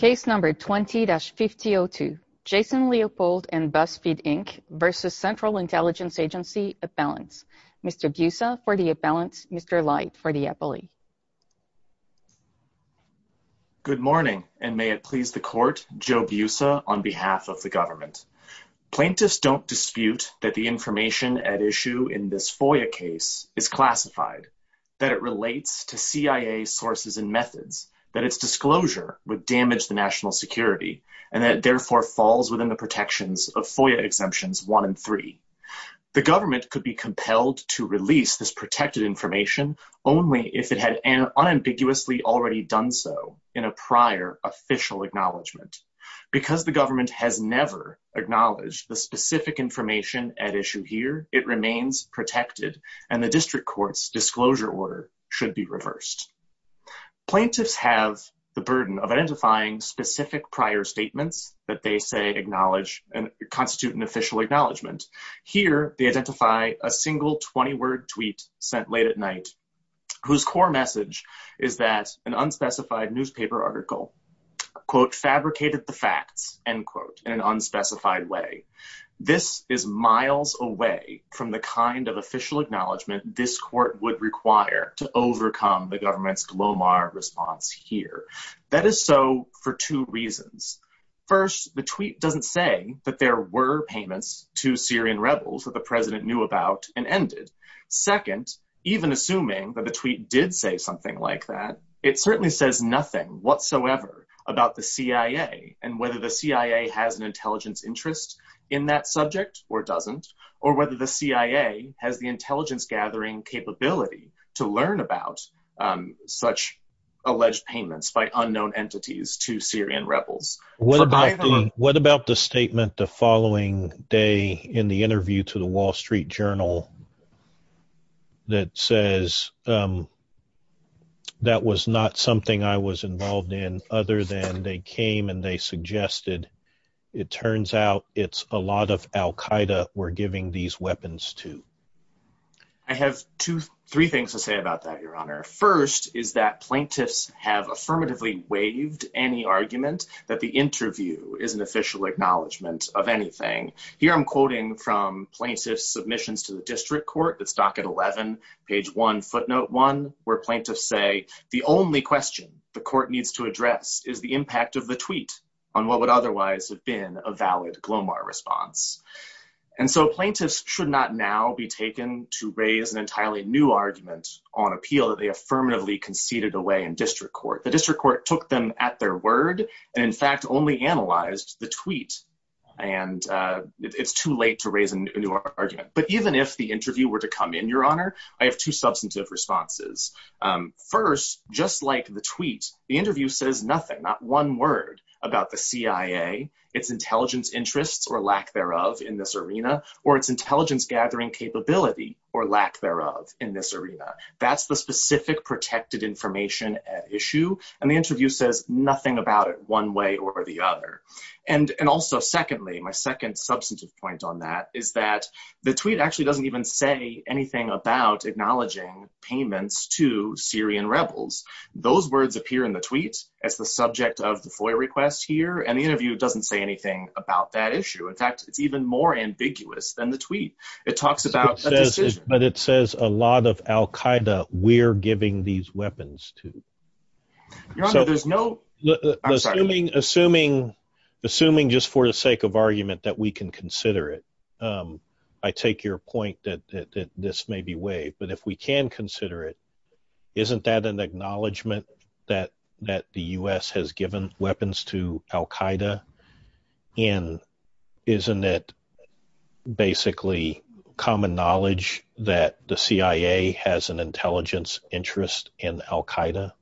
20-5002 Jason Leopold and Buzzfeed Inc. v. Central Intelligence Agency, Appellants Mr. Biusa for the Appellants, Mr. Light for the Appellee Good morning, and may it please the Court, Joe Biusa on behalf of the Government. Plaintiffs don't dispute that the information at issue in this FOIA case is classified, that it relates to CIA sources and methods, that its disclosure would damage the national security, and that it therefore falls within the protections of FOIA Exemptions 1 and 3. The Government could be compelled to release this protected information only if it had unambiguously already done so in a prior official acknowledgement. Because the Government has never acknowledged the specific information at issue here, it remains protected, and the District Court's disclosure order should be reversed. Plaintiffs have the burden of identifying specific prior statements that they say constitute an official acknowledgement. Here, they identify a single 20-word tweet sent late at night, whose core message is that an unspecified newspaper article, quote, end quote, in an unspecified way. This is miles away from the kind of official acknowledgement this Court would require to overcome the Government's glomar response here. That is so for two reasons. First, the tweet doesn't say that there were payments to Syrian rebels that the President knew about and ended. Second, even assuming that the tweet did say something like that, it certainly says nothing whatsoever about the CIA and whether the CIA has an intelligence interest in that subject or doesn't, or whether the CIA has the intelligence-gathering capability to learn about such alleged payments by unknown entities to Syrian rebels. What about the statement the following day in the interview to the Wall Street Journal that says, that was not something I was involved in other than they came and they suggested, it turns out it's a lot of Al-Qaeda we're giving these weapons to? I have three things to say about that, Your Honor. First, is that plaintiffs have affirmatively waived any argument that the interview is an official acknowledgement of anything. Here I'm quoting from plaintiffs' submissions to the District Court. It's docket 11, page 1, footnote 1, where plaintiffs say, the only question the Court needs to address is the impact of the tweet on what would otherwise have been a valid glomar response. And so plaintiffs should not now be taken to raise an entirely new argument on appeal that they affirmatively conceded away in District Court. The District Court took them at their word, and in fact only analyzed the tweet. And it's too late to raise a new argument. But even if the interview were to come in, Your Honor, I have two substantive responses. First, just like the tweet, the interview says nothing, not one word about the CIA, its intelligence interests or lack thereof in this arena, or its intelligence gathering capability or lack thereof in this arena. That's the specific protected information issue. And the interview says nothing about it one way or the other. And also, secondly, my second substantive point on that is that the tweet actually doesn't even say anything about acknowledging payments to Syrian rebels. Those words appear in the tweet as the subject of the FOIA request here, and the interview doesn't say anything about that issue. In fact, it's even more ambiguous than the tweet. It talks about a decision. But it says a lot of al-Qaeda we're giving these weapons to. Your Honor, there's no – Assuming just for the sake of argument that we can consider it, I take your point that this may be waived. But if we can consider it, isn't that an acknowledgment that the U.S. has given weapons to al-Qaeda? And isn't it basically common knowledge that the CIA has an intelligence interest in al-Qaeda?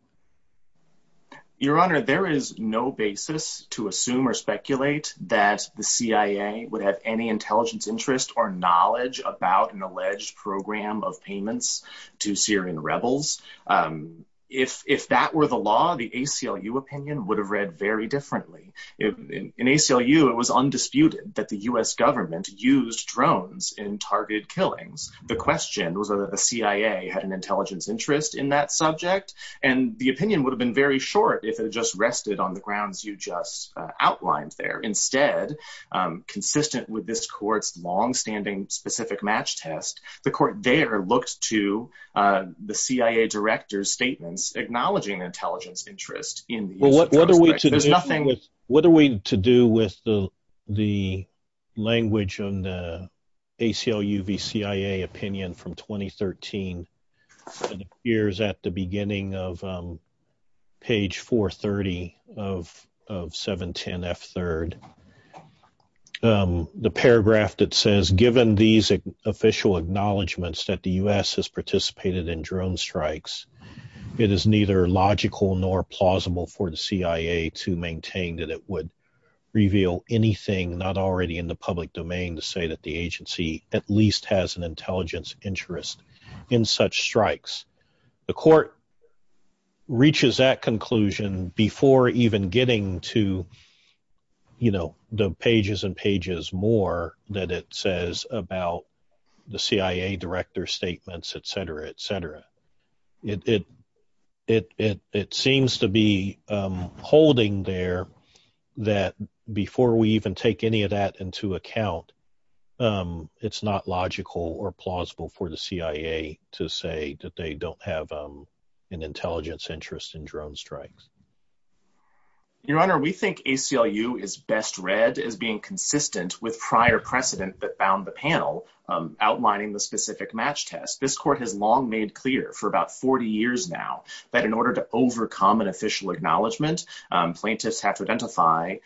Your Honor, there is no basis to assume or speculate that the CIA would have any intelligence interest or knowledge about an alleged program of payments to Syrian rebels. If that were the law, the ACLU opinion would have read very differently. In ACLU, it was undisputed that the U.S. government used drones in targeted killings. The question was whether the CIA had an intelligence interest in that subject. And the opinion would have been very short if it had just rested on the grounds you just outlined there. Instead, consistent with this court's longstanding specific match test, the court there looked to the CIA director's statements acknowledging intelligence interest. What are we to do with the language on the ACLU v. CIA opinion from 2013 that appears at the beginning of page 430 of 710F3? The paragraph that says, given these official acknowledgments that the U.S. has participated in drone strikes, it is neither logical nor plausible for the CIA to maintain that it would reveal anything not already in the public domain to say that the agency at least has an intelligence interest in such strikes. The court reaches that conclusion before even getting to the pages and pages more that it says about the CIA director's statements, etc., etc. It seems to be holding there that before we even take any of that into account, it's not logical or plausible for the CIA to say that they don't have an intelligence interest in drone strikes. Your Honor, we think ACLU is best read as being consistent with prior precedent that bound the panel outlining the specific match test. This court has long made clear for about 40 years now that in order to overcome an official acknowledgement, plaintiffs have to identify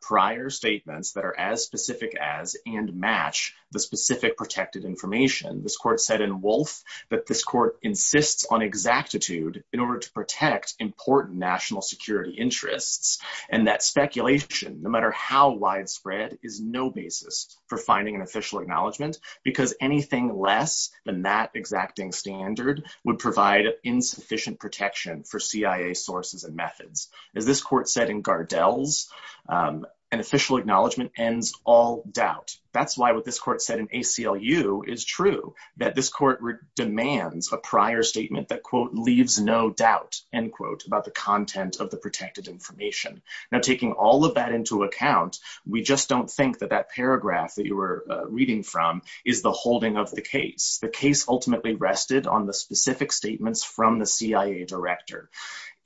prior statements that are as specific as and match the specific protected information. This court said in Wolfe that this court insists on exactitude in order to protect important national security interests and that speculation, no matter how widespread, is no basis for finding an official acknowledgement because anything less than that exacting standard would provide insufficient protection for CIA sources and methods. As this court said in Gardel's, an official acknowledgement ends all doubt. That's why what this court said in ACLU is true, that this court demands a prior statement that, quote, leaves no doubt, end quote, about the content of the protected information. Now, taking all of that into account, we just don't think that that paragraph that you were reading from is the holding of the case. The case ultimately rested on the specific statements from the CIA director.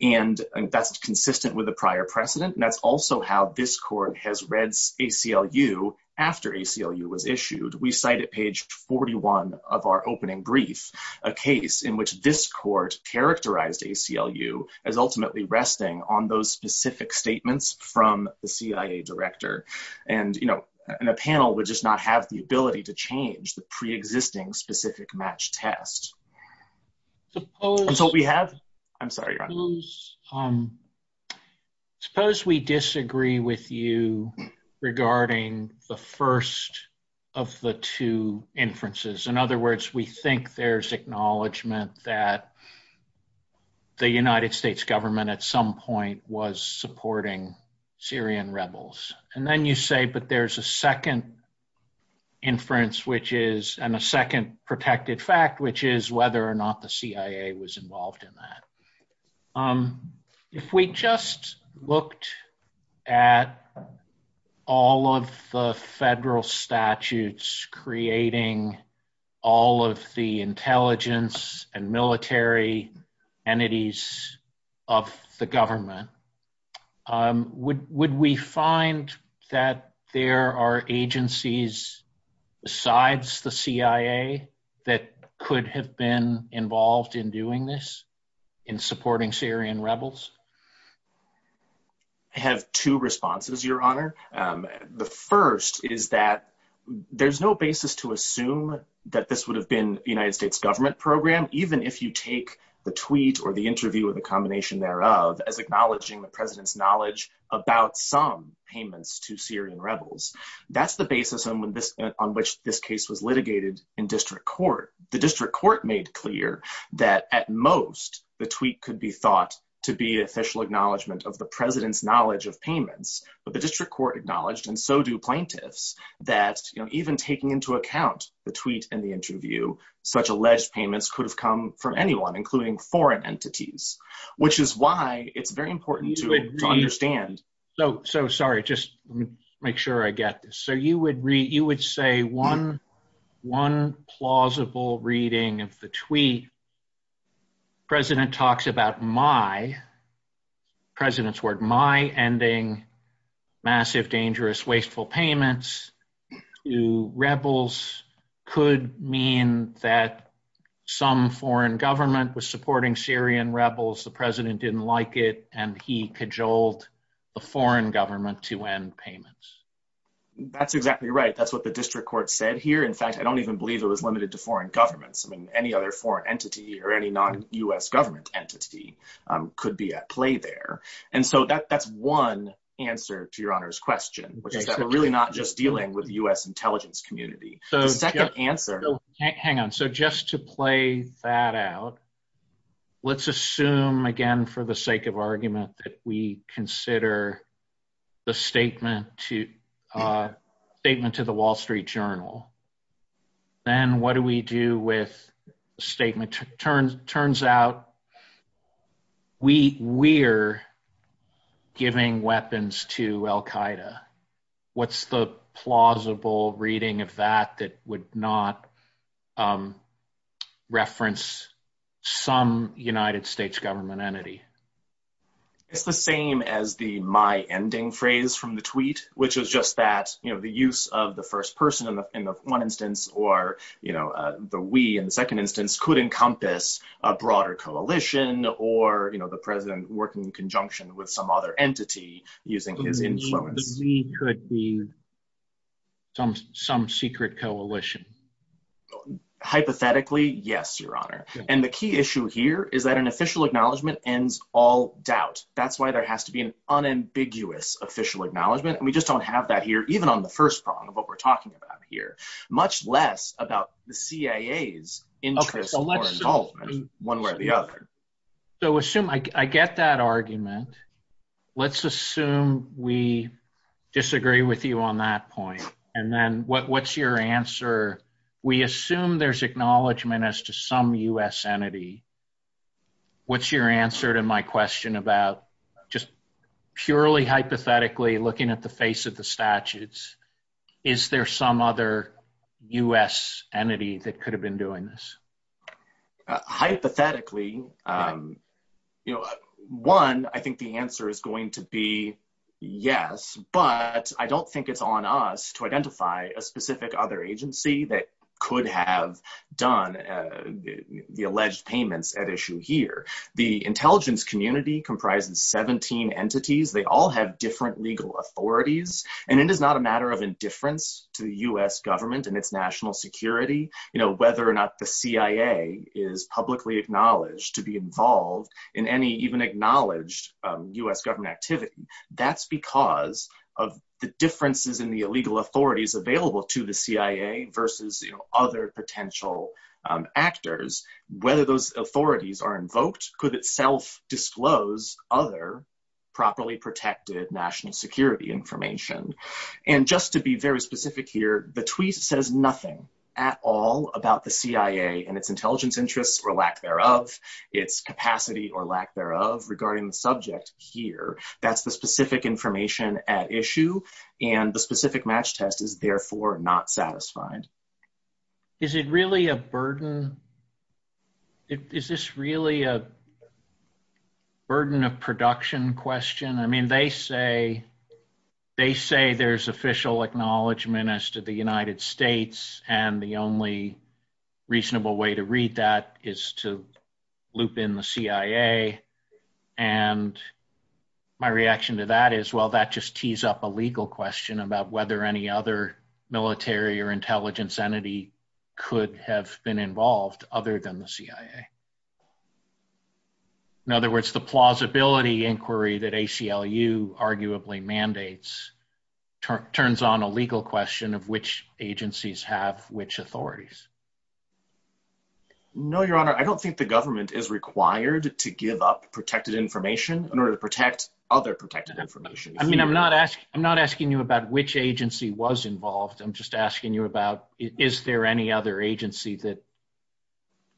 And that's consistent with the prior precedent, and that's also how this court has read ACLU after ACLU was issued. We cite at page 41 of our opening brief a case in which this court characterized ACLU as ultimately resting on those specific statements from the CIA director. And, you know, a panel would just not have the ability to change the preexisting specific match test. That's all we have. I'm sorry. Suppose we disagree with you regarding the first of the two inferences. In other words, we think there's acknowledgement that the United States government at some point was supporting Syrian rebels. And then you say, but there's a second inference, which is, and a second protected fact, which is whether or not the CIA was involved in that. If we just looked at all of the federal statutes creating all of the intelligence and military entities of the government, would we find that there are agencies besides the CIA that could have been involved in doing this, in supporting Syrian rebels? I have two responses, Your Honor. The first is that there's no basis to assume that this would have been the United States government program, even if you take the tweet or the interview or the combination thereof as acknowledging the President's knowledge about some payments to Syrian rebels. That's the basis on which this case was litigated in district court. The district court made clear that, at most, the tweet could be thought to be official acknowledgement of the President's knowledge of payments. But the district court acknowledged, and so do plaintiffs, that even taking into account the tweet and the interview, such alleged payments could have come from anyone, including foreign entities, which is why it's very important to understand. Sorry, just make sure I get this. You would say one plausible reading of the tweet, the President talks about my, the President's word, my ending massive, dangerous, wasteful payments to rebels could mean that some foreign government was supporting Syrian rebels. The President didn't like it, and he cajoled the foreign government to end payments. That's exactly right. That's what the district court said here. In fact, I don't even believe it was limited to foreign governments. I mean, any other foreign entity or any non-U.S. government entity could be at play there. And so that's one answer to Your Honor's question, which is that we're really not just dealing with the U.S. intelligence community. Hang on. So just to play that out, let's assume again, for the sake of argument, that we consider the statement to the Wall Street Journal. Then what do we do with the statement? Turns out we're giving weapons to Al Qaeda. What's the plausible reading of that that would not reference some United States government entity? It's the same as the my ending phrase from the tweet, which is just that, you know, the use of the first person in the one instance or, you know, the we in the second instance could encompass a broader coalition or, you know, the President working in conjunction with some other entity using his influence. We could be some secret coalition. Hypothetically, yes, Your Honor. And the key issue here is that an official acknowledgement ends all doubt. That's why there has to be an unambiguous official acknowledgement. And we just don't have that here, even on the first prong of what we're talking about here, much less about the CIA's interest or involvement one way or the other. So assume I get that argument. Let's assume we disagree with you on that point. And then what's your answer? We assume there's acknowledgement as to some U.S. entity. What's your answer to my question about just purely hypothetically looking at the face of the statutes? Is there some other U.S. entity that could have been doing this? Hypothetically, you know, one, I think the answer is going to be yes, but I don't think it's on us to identify a specific other agency that could have done the alleged payments at issue here. The intelligence community comprises 17 entities. They all have different legal authorities. And it is not a matter of indifference to the U.S. government and its national security, you know, whether or not the CIA is publicly acknowledged to be involved in any even acknowledged U.S. government activity. That's because of the differences in the legal authorities available to the CIA versus, you know, other potential actors, whether those authorities are invoked could itself disclose other properly protected national security information. And just to be very specific here, the tweet says nothing at all about the CIA and its intelligence interests or lack thereof, its capacity or lack thereof regarding the subject here. That's the specific information at issue. And the specific match test is therefore not satisfied. Is it really a burden? Is this really a burden of production question? I mean, they say they say there's official acknowledgement as to the United States. And the only reasonable way to read that is to loop in the CIA. And my reaction to that is, well, that just tees up a legal question about whether any other military or intelligence entity could have been involved other than the CIA. In other words, the plausibility inquiry that ACLU arguably mandates turns on a legal question of which agencies have which authorities. No, Your Honor, I don't think the government is required to give up protected information in order to protect other protected information. I mean, I'm not asking I'm not asking you about which agency was involved. I'm just asking you about is there any other agency that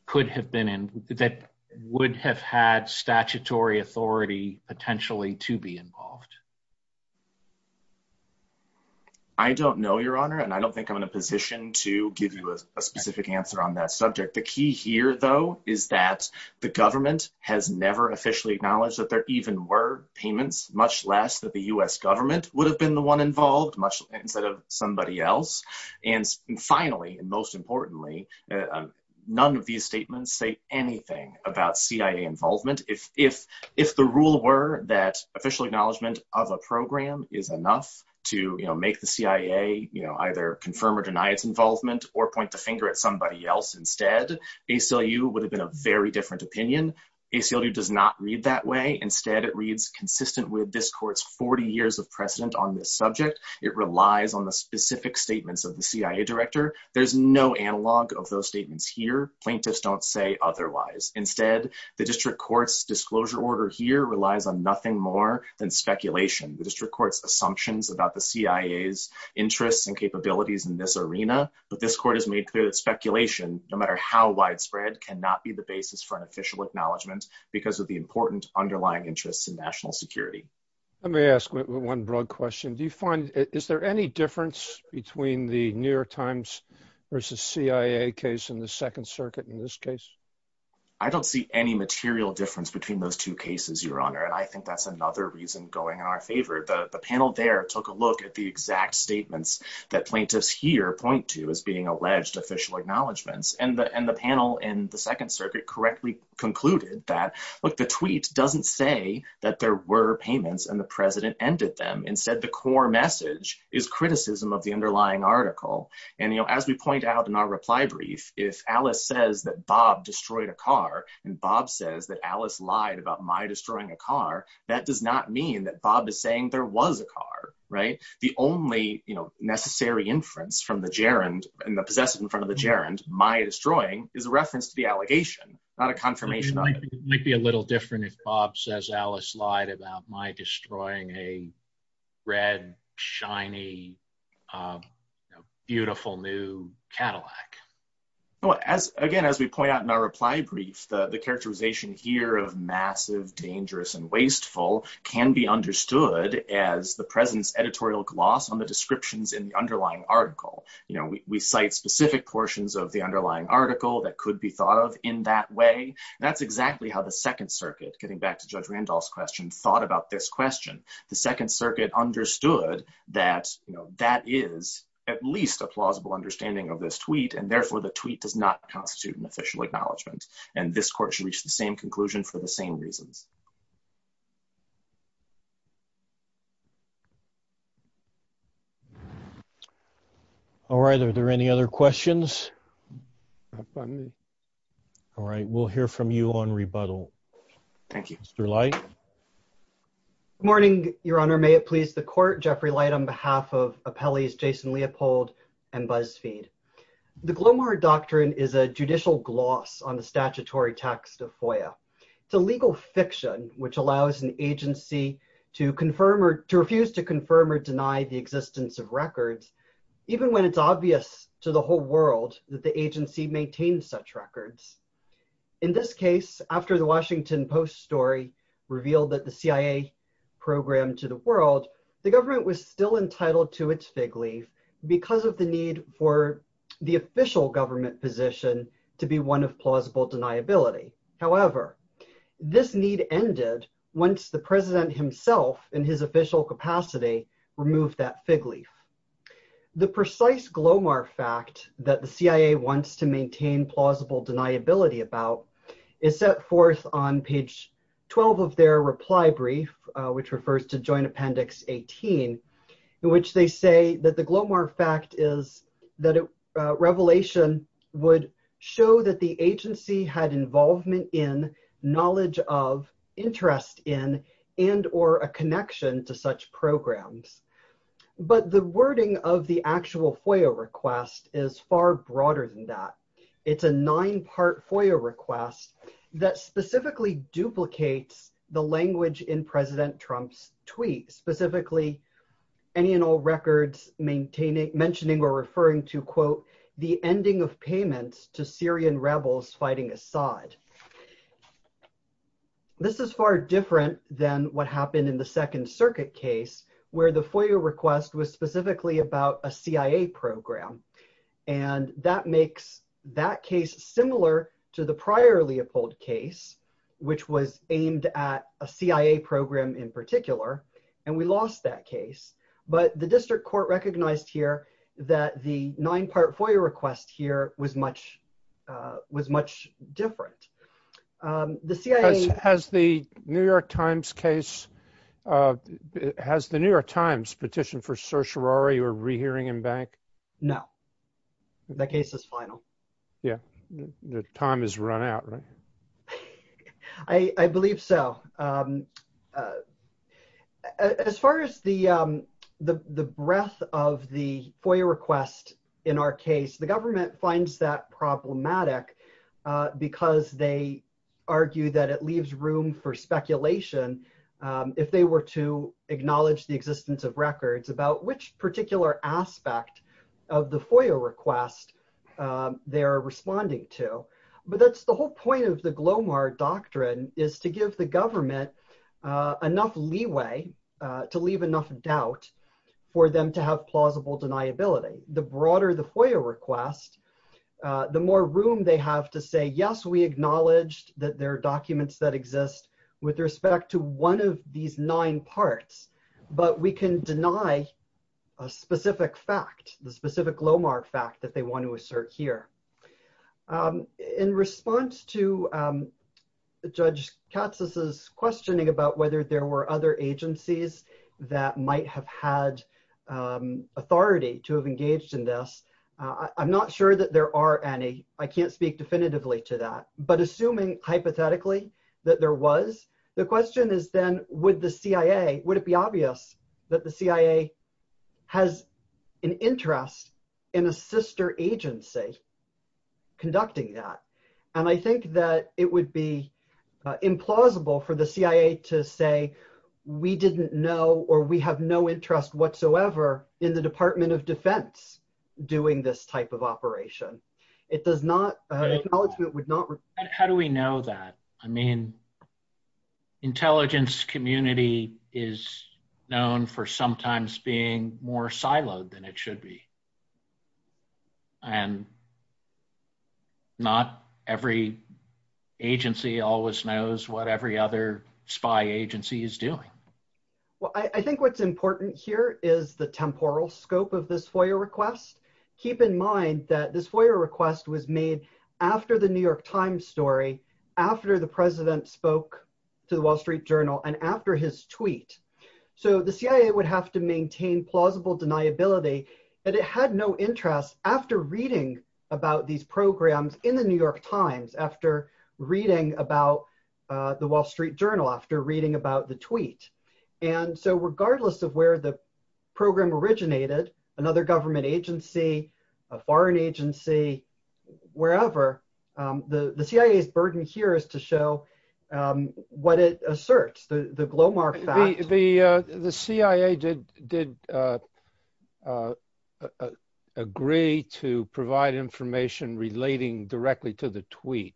could have been in that would have had statutory authority potentially to be involved? I don't know, Your Honor, and I don't think I'm in a position to give you a specific answer on that subject. The key here, though, is that the government has never officially acknowledged that there even were payments, much less that the US government would have been the one involved much instead of somebody else. And finally, and most importantly, none of these statements say anything about CIA involvement. If the rule were that official acknowledgement of a program is enough to make the CIA either confirm or deny its involvement or point the finger at somebody else instead, ACLU would have been a very different opinion. ACLU does not read that way. Instead, it reads consistent with this court's 40 years of precedent on this subject. It relies on the specific statements of the CIA director. There's no analog of those statements here. Plaintiffs don't say otherwise. Instead, the district court's disclosure order here relies on nothing more than speculation. The district court's assumptions about the CIA's interests and capabilities in this arena, but this court has made clear that speculation, no matter how widespread, cannot be the basis for an official acknowledgement because of the important underlying interests in national security. Let me ask one broad question. Do you find, is there any difference between the New York Times versus CIA case and the Second Circuit in this case? I don't see any material difference between those two cases, Your Honor. And I think that's another reason going in our favor. The panel there took a look at the exact statements that plaintiffs here point to as being alleged official acknowledgements. And the panel in the Second Circuit correctly concluded that, look, the tweet doesn't say that there were payments and the president ended them. Instead, the core message is criticism of the underlying article. And, you know, as we point out in our reply brief, if Alice says that Bob destroyed a car and Bob says that Alice lied about my destroying a car, that does not mean that Bob is saying there was a car, right? The only, you know, necessary inference from the gerund and the possessive in front of the gerund, my destroying, is a reference to the allegation, not a confirmation. It might be a little different if Bob says Alice lied about my destroying a red, shiny, beautiful new Cadillac. Again, as we point out in our reply brief, the characterization here of massive, dangerous, and wasteful can be understood as the president's editorial gloss on the descriptions in the underlying article. You know, we cite specific portions of the underlying article that could be thought of in that way. That's exactly how the Second Circuit, getting back to Judge Randolph's question, thought about this question. The Second Circuit understood that, you know, that is at least a plausible understanding of this tweet, and therefore the tweet does not constitute an official acknowledgment. And this court should reach the same conclusion for the same reasons. All right, are there any other questions? All right, we'll hear from you on rebuttal. Thank you. Mr. Light? Good morning, Your Honor. May it please the court, Jeffrey Light on behalf of appellees Jason Leopold and Buzzfeed. The Glomar Doctrine is a judicial gloss on the statutory text of FOIA. It's a legal fiction which allows an agency to refuse to confirm or deny the existence of records, even when it's obvious to the whole world that the agency maintains such records. In this case, after the Washington Post story revealed that the CIA programmed to the world, the government was still entitled to its fig leaf because of the need for the official government position to be one of plausible deniability. However, this need ended once the president himself, in his official capacity, removed that fig leaf. The precise Glomar fact that the CIA wants to maintain plausible deniability about is set forth on page 12 of their reply brief, which refers to Joint Appendix 18, in which they say that the Glomar fact is that a revelation would show that the agency had involvement in, knowledge of, interest in, and or a connection to such programs. But the wording of the actual FOIA request is far broader than that. It's a nine-part FOIA request that specifically duplicates the language in President Trump's tweet, specifically any and all records mentioning or referring to, quote, the ending of payments to Syrian rebels fighting Assad. This is far different than what happened in the Second Circuit case where the FOIA request was specifically about a CIA program. And that makes that case similar to the prior Leopold case, which was aimed at a CIA program in particular, and we lost that case. But the district court recognized here that the nine-part FOIA request here was much different. The CIA — Has the New York Times case — has the New York Times petitioned for certiorari or rehearing in bank? No. That case is final. Yeah. Time has run out, right? I believe so. As far as the breadth of the FOIA request in our case, the government finds that problematic because they argue that it leaves room for speculation if they were to acknowledge the existence of records about which particular aspect of the FOIA request they are responding to. But that's the whole point of the GLOMAR doctrine is to give the government enough leeway to leave enough doubt for them to have plausible deniability. The broader the FOIA request, the more room they have to say, yes, we acknowledged that there are documents that exist with respect to one of these nine parts, but we can deny a specific fact, the specific GLOMAR fact that they want to assert here. In response to Judge Katsas' questioning about whether there were other agencies that might have had authority to have engaged in this, I'm not sure that there are any. I can't speak definitively to that. But assuming hypothetically that there was, the question is then would the CIA, would it be obvious that the CIA has an interest in a sister agency conducting that? And I think that it would be implausible for the CIA to say, we didn't know or we have no interest whatsoever in the Department of Defense doing this type of operation. It does not, acknowledgement would not. How do we know that? I mean, intelligence community is known for sometimes being more siloed than it should be. And not every agency always knows what every other spy agency is doing. Well, I think what's important here is the temporal scope of this FOIA request. Keep in mind that this FOIA request was made after the New York Times story, after the president spoke to the Wall Street Journal and after his tweet. So the CIA would have to maintain plausible deniability that it had no interest after reading about these programs in the New York Times, after reading about the Wall Street Journal, after reading about the tweet. And so regardless of where the program originated, another government agency, a foreign agency, wherever, the CIA's burden here is to show what it asserts, the glow mark fact. The CIA did agree to provide information relating directly to the tweet.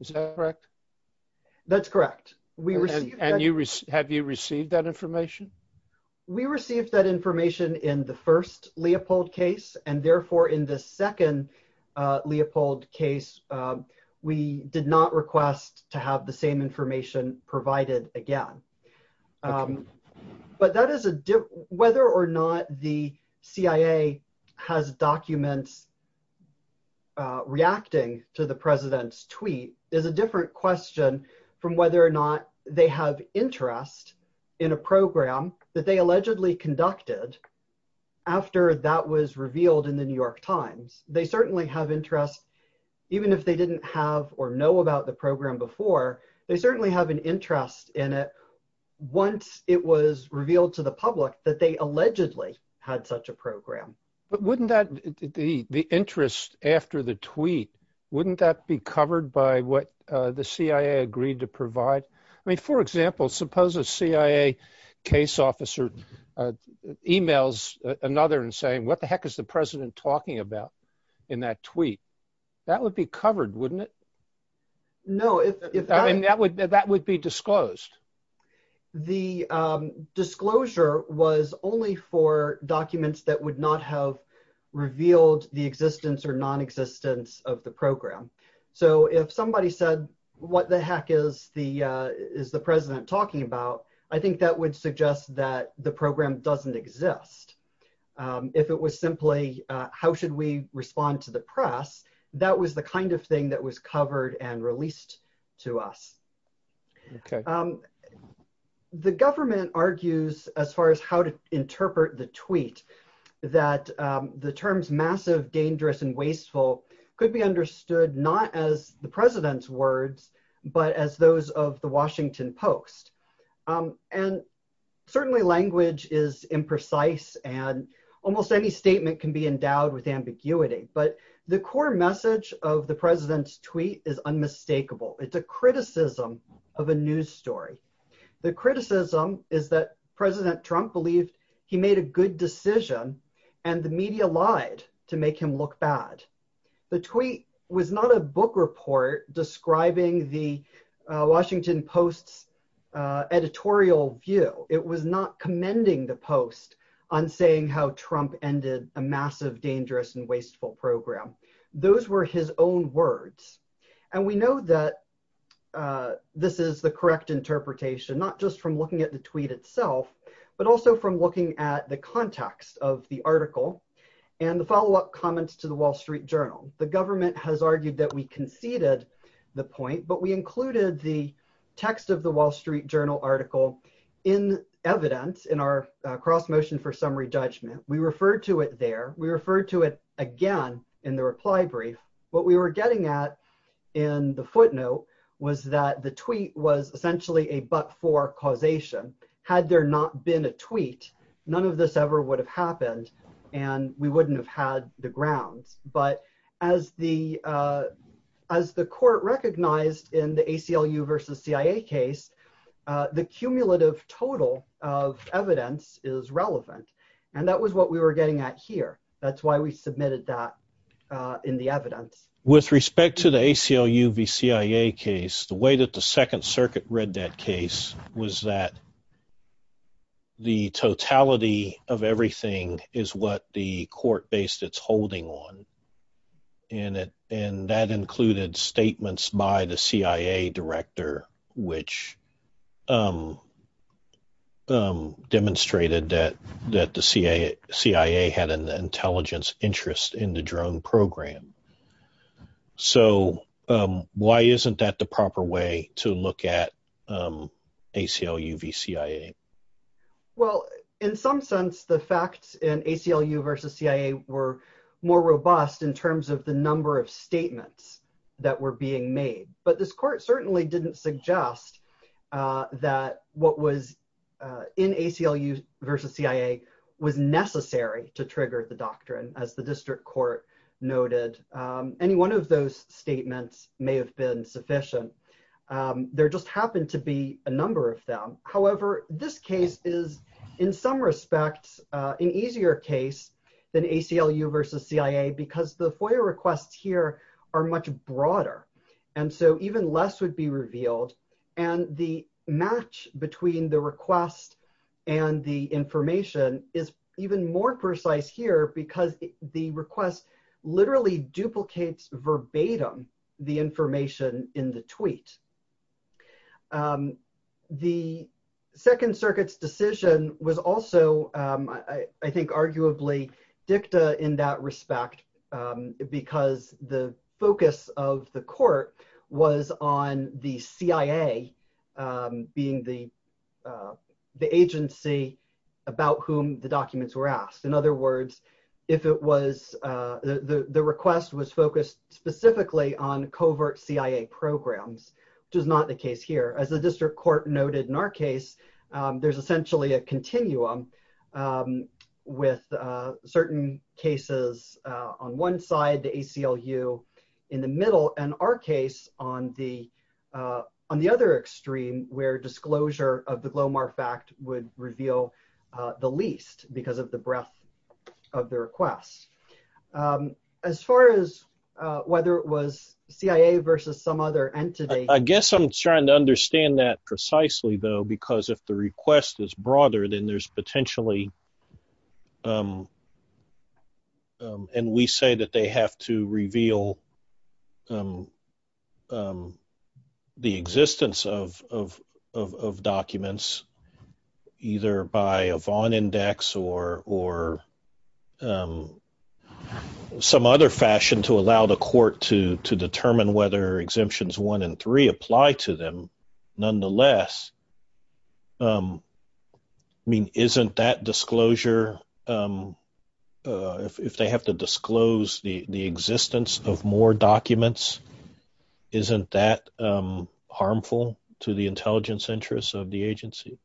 Is that correct? That's correct. And have you received that information? We received that information in the first Leopold case, and therefore in the second Leopold case, we did not request to have the same information provided again. But whether or not the CIA has documents reacting to the president's tweet is a different question from whether or not they have interest in a program that they allegedly conducted after that was revealed in the New York Times. They certainly have interest, even if they didn't have or know about the program before, they certainly have an interest in it once it was revealed to the public that they allegedly had such a program. But wouldn't that, the interest after the tweet, wouldn't that be covered by what the CIA agreed to provide? I mean, for example, suppose a CIA case officer emails another and saying, what the heck is the president talking about in that tweet? That would be covered, wouldn't it? No. I mean, that would be disclosed. The disclosure was only for documents that would not have revealed the existence or non-existence of the program. So if somebody said, what the heck is the president talking about? I think that would suggest that the program doesn't exist. If it was simply, how should we respond to the press? That was the kind of thing that was covered and released to us. The government argues, as far as how to interpret the tweet, that the terms massive, dangerous, and wasteful could be understood not as the president's words, but as those of the Washington Post. And certainly language is imprecise and almost any statement can be endowed with ambiguity. But the core message of the president's tweet is unmistakable. It's a criticism of a news story. The criticism is that President Trump believed he made a good decision, and the media lied to make him look bad. The tweet was not a book report describing the Washington Post's editorial view. It was not commending the Post on saying how Trump ended a massive, dangerous, and wasteful program. Those were his own words. And we know that this is the correct interpretation, not just from looking at the tweet itself, but also from looking at the context of the article and the follow-up comments to the Wall Street Journal. The government has argued that we conceded the point, but we included the text of the Wall Street Journal article in evidence in our cross-motion for summary judgment. We referred to it there. We referred to it again in the reply brief. What we were getting at in the footnote was that the tweet was essentially a but-for causation. Had there not been a tweet, none of this ever would have happened, and we wouldn't have had the grounds. But as the court recognized in the ACLU versus CIA case, the cumulative total of evidence is relevant. And that was what we were getting at here. That's why we submitted that in the evidence. With respect to the ACLU v. CIA case, the way that the Second Circuit read that case was that the totality of everything is what the court based its holding on. And that included statements by the CIA director, which demonstrated that the CIA had an intelligence interest in the drone program. So why isn't that the proper way to look at ACLU v. CIA? Well, in some sense, the facts in ACLU v. CIA were more robust in terms of the number of statements that were being made. But this court certainly didn't suggest that what was in ACLU v. CIA was necessary to trigger the doctrine, as the district court noted. Any one of those statements may have been sufficient. There just happened to be a number of them. However, this case is, in some respects, an easier case than ACLU v. CIA because the FOIA requests here are much broader. And so even less would be revealed. And the match between the request and the information is even more precise here because the request literally duplicates verbatim the information in the tweet. The Second Circuit's decision was also, I think, arguably dicta in that respect because the focus of the court was on the CIA being the agency about whom the documents were asked. In other words, the request was focused specifically on covert CIA programs, which is not the case here. As the district court noted in our case, there's essentially a continuum with certain cases on one side, the ACLU in the middle, and our case on the other extreme where disclosure of the Glomar fact would reveal the least because of the breadth of the request. As far as whether it was CIA versus some other entity. I guess I'm trying to understand that precisely, though, because if the request is broader, then there's potentially. And we say that they have to reveal the existence of documents either by a Vaughn index or some other fashion to allow the court to determine whether exemptions one and three apply to them. Nonetheless, I mean, isn't that disclosure, if they have to disclose the existence of more documents, isn't that harmful to the intelligence interests of the agency?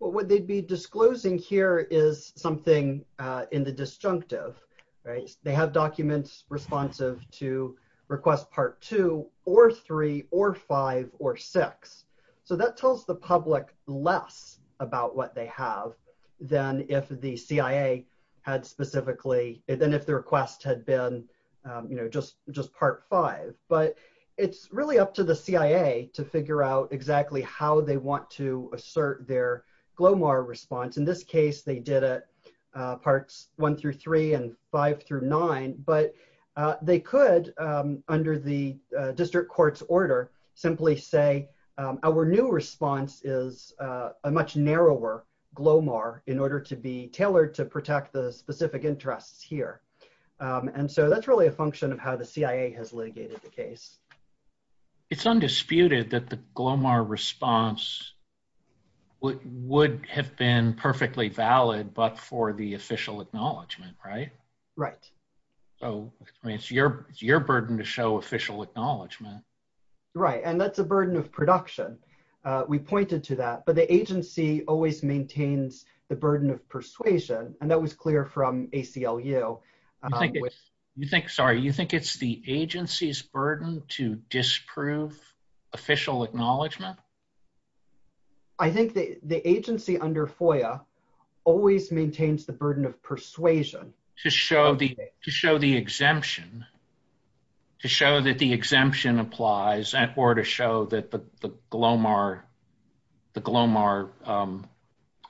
Well, what they'd be disclosing here is something in the disjunctive, right? They have documents responsive to request part two or three or five or six. So that tells the public less about what they have than if the CIA had specifically, than if the request had been, you know, just part five. But it's really up to the CIA to figure out exactly how they want to assert their Glomar response. In this case, they did it. Parts one through three and five through nine, but they could, under the district court's order, simply say our new response is a much narrower Glomar in order to be tailored to protect the specific interests here. And so that's really a function of how the CIA has litigated the case. It's undisputed that the Glomar response would have been perfectly valid, but for the official acknowledgement, right? Right. So it's your burden to show official acknowledgement. Right. And that's a burden of production. We pointed to that, but the agency always maintains the burden of persuasion. And that was clear from ACLU. You think, sorry, you think it's the agency's burden to disprove official acknowledgement? I think the agency under FOIA always maintains the burden of persuasion. To show the exemption, to show that the exemption applies, or to show that the Glomar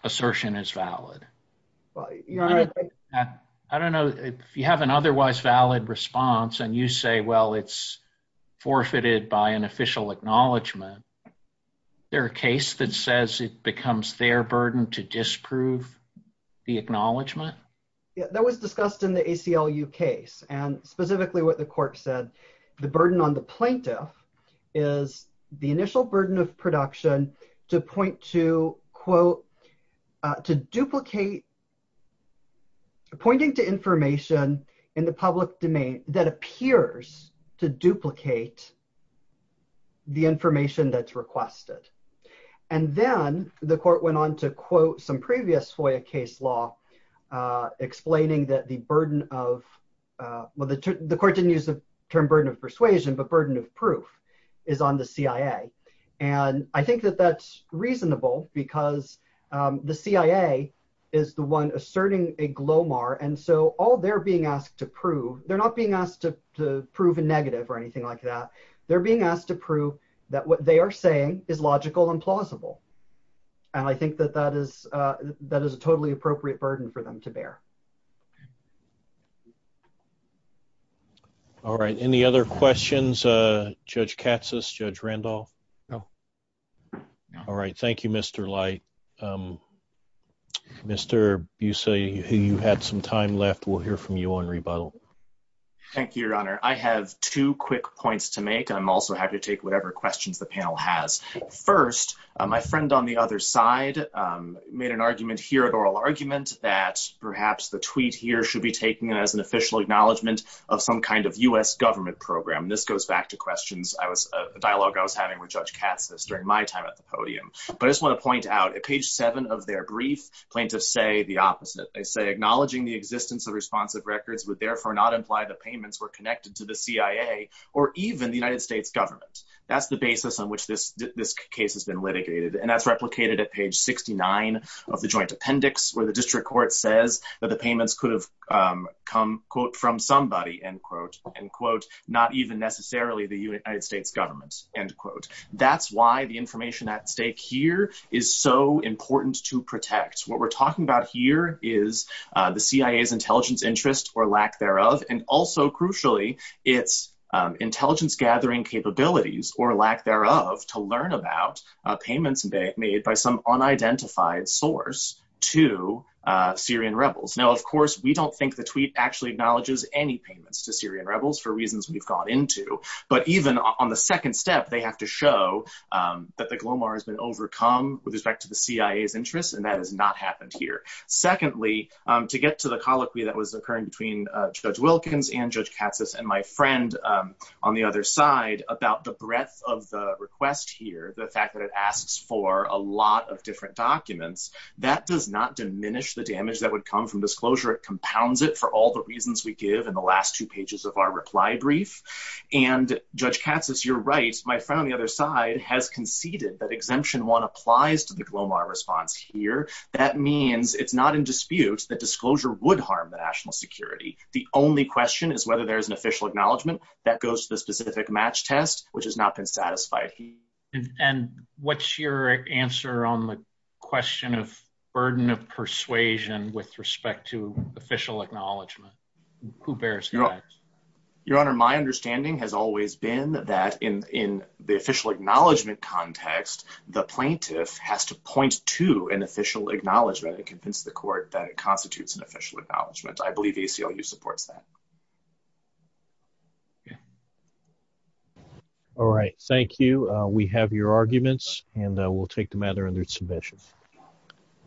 assertion is valid. I don't know, if you have an otherwise valid response and you say, well, it's forfeited by an official acknowledgement, is there a case that says it becomes their burden to disprove the acknowledgement? That was discussed in the ACLU case. And specifically what the court said, the burden on the plaintiff is the initial burden of production to point to, quote, to duplicate pointing to information in the public domain that appears to duplicate the information that's requested. And then the court went on to quote some previous FOIA case law, explaining that the burden of, well, the court didn't use the term burden of persuasion, but burden of proof is on the CIA. And I think that that's reasonable because the CIA is the one asserting a Glomar. And so all they're being asked to prove, they're not being asked to prove a negative or anything like that. They're being asked to prove that what they are saying is logical and plausible. And I think that that is a totally appropriate burden for them to bear. All right. Any other questions, Judge Katsas, Judge Randolph? No. All right. Thank you, Mr. Light. Mr. Busse, you had some time left. We'll hear from you on rebuttal. Thank you, Your Honor. I have two quick points to make. I'm also happy to take whatever questions the panel has. First, my friend on the other side made an argument here, an oral argument, that perhaps the tweet here should be taken as an official acknowledgement of some kind of U.S. government program. This goes back to questions, a dialogue I was having with Judge Katsas during my time at the podium. But I just want to point out, at page seven of their brief, plaintiffs say the opposite. They say, acknowledging the existence of responsive records would therefore not imply the payments were connected to the CIA or even the United States government. That's the basis on which this case has been litigated. And that's replicated at page 69 of the joint appendix, where the district court says that the payments could have come, quote, from somebody, end quote, end quote, not even necessarily the United States government, end quote. That's why the information at stake here is so important to protect. What we're talking about here is the CIA's intelligence interest or lack thereof. And also, crucially, its intelligence gathering capabilities or lack thereof to learn about payments made by some unidentified source to Syrian rebels. Now, of course, we don't think the tweet actually acknowledges any payments to Syrian rebels for reasons we've gone into. But even on the second step, they have to show that the GLOMAR has been overcome with respect to the CIA's interest. And that has not happened here. Secondly, to get to the colloquy that was occurring between Judge Wilkins and Judge Katsas and my friend on the other side about the breadth of the request here, the fact that it asks for a lot of different documents, that does not diminish the damage that would come from disclosure. It compounds it for all the reasons we give in the last two pages of our reply brief. And Judge Katsas, you're right. My friend on the other side has conceded that Exemption 1 applies to the GLOMAR response here. That means it's not in dispute that disclosure would harm the national security. The only question is whether there is an official acknowledgment that goes to the specific match test, which has not been satisfied here. And what's your answer on the question of burden of persuasion with respect to official acknowledgment? Who bears that? Your Honor, my understanding has always been that in the official acknowledgment context, the plaintiff has to point to an official acknowledgment and convince the court that it constitutes an official acknowledgment. I believe ACLU supports that. All right. Thank you. We have your arguments, and we'll take the matter under submission.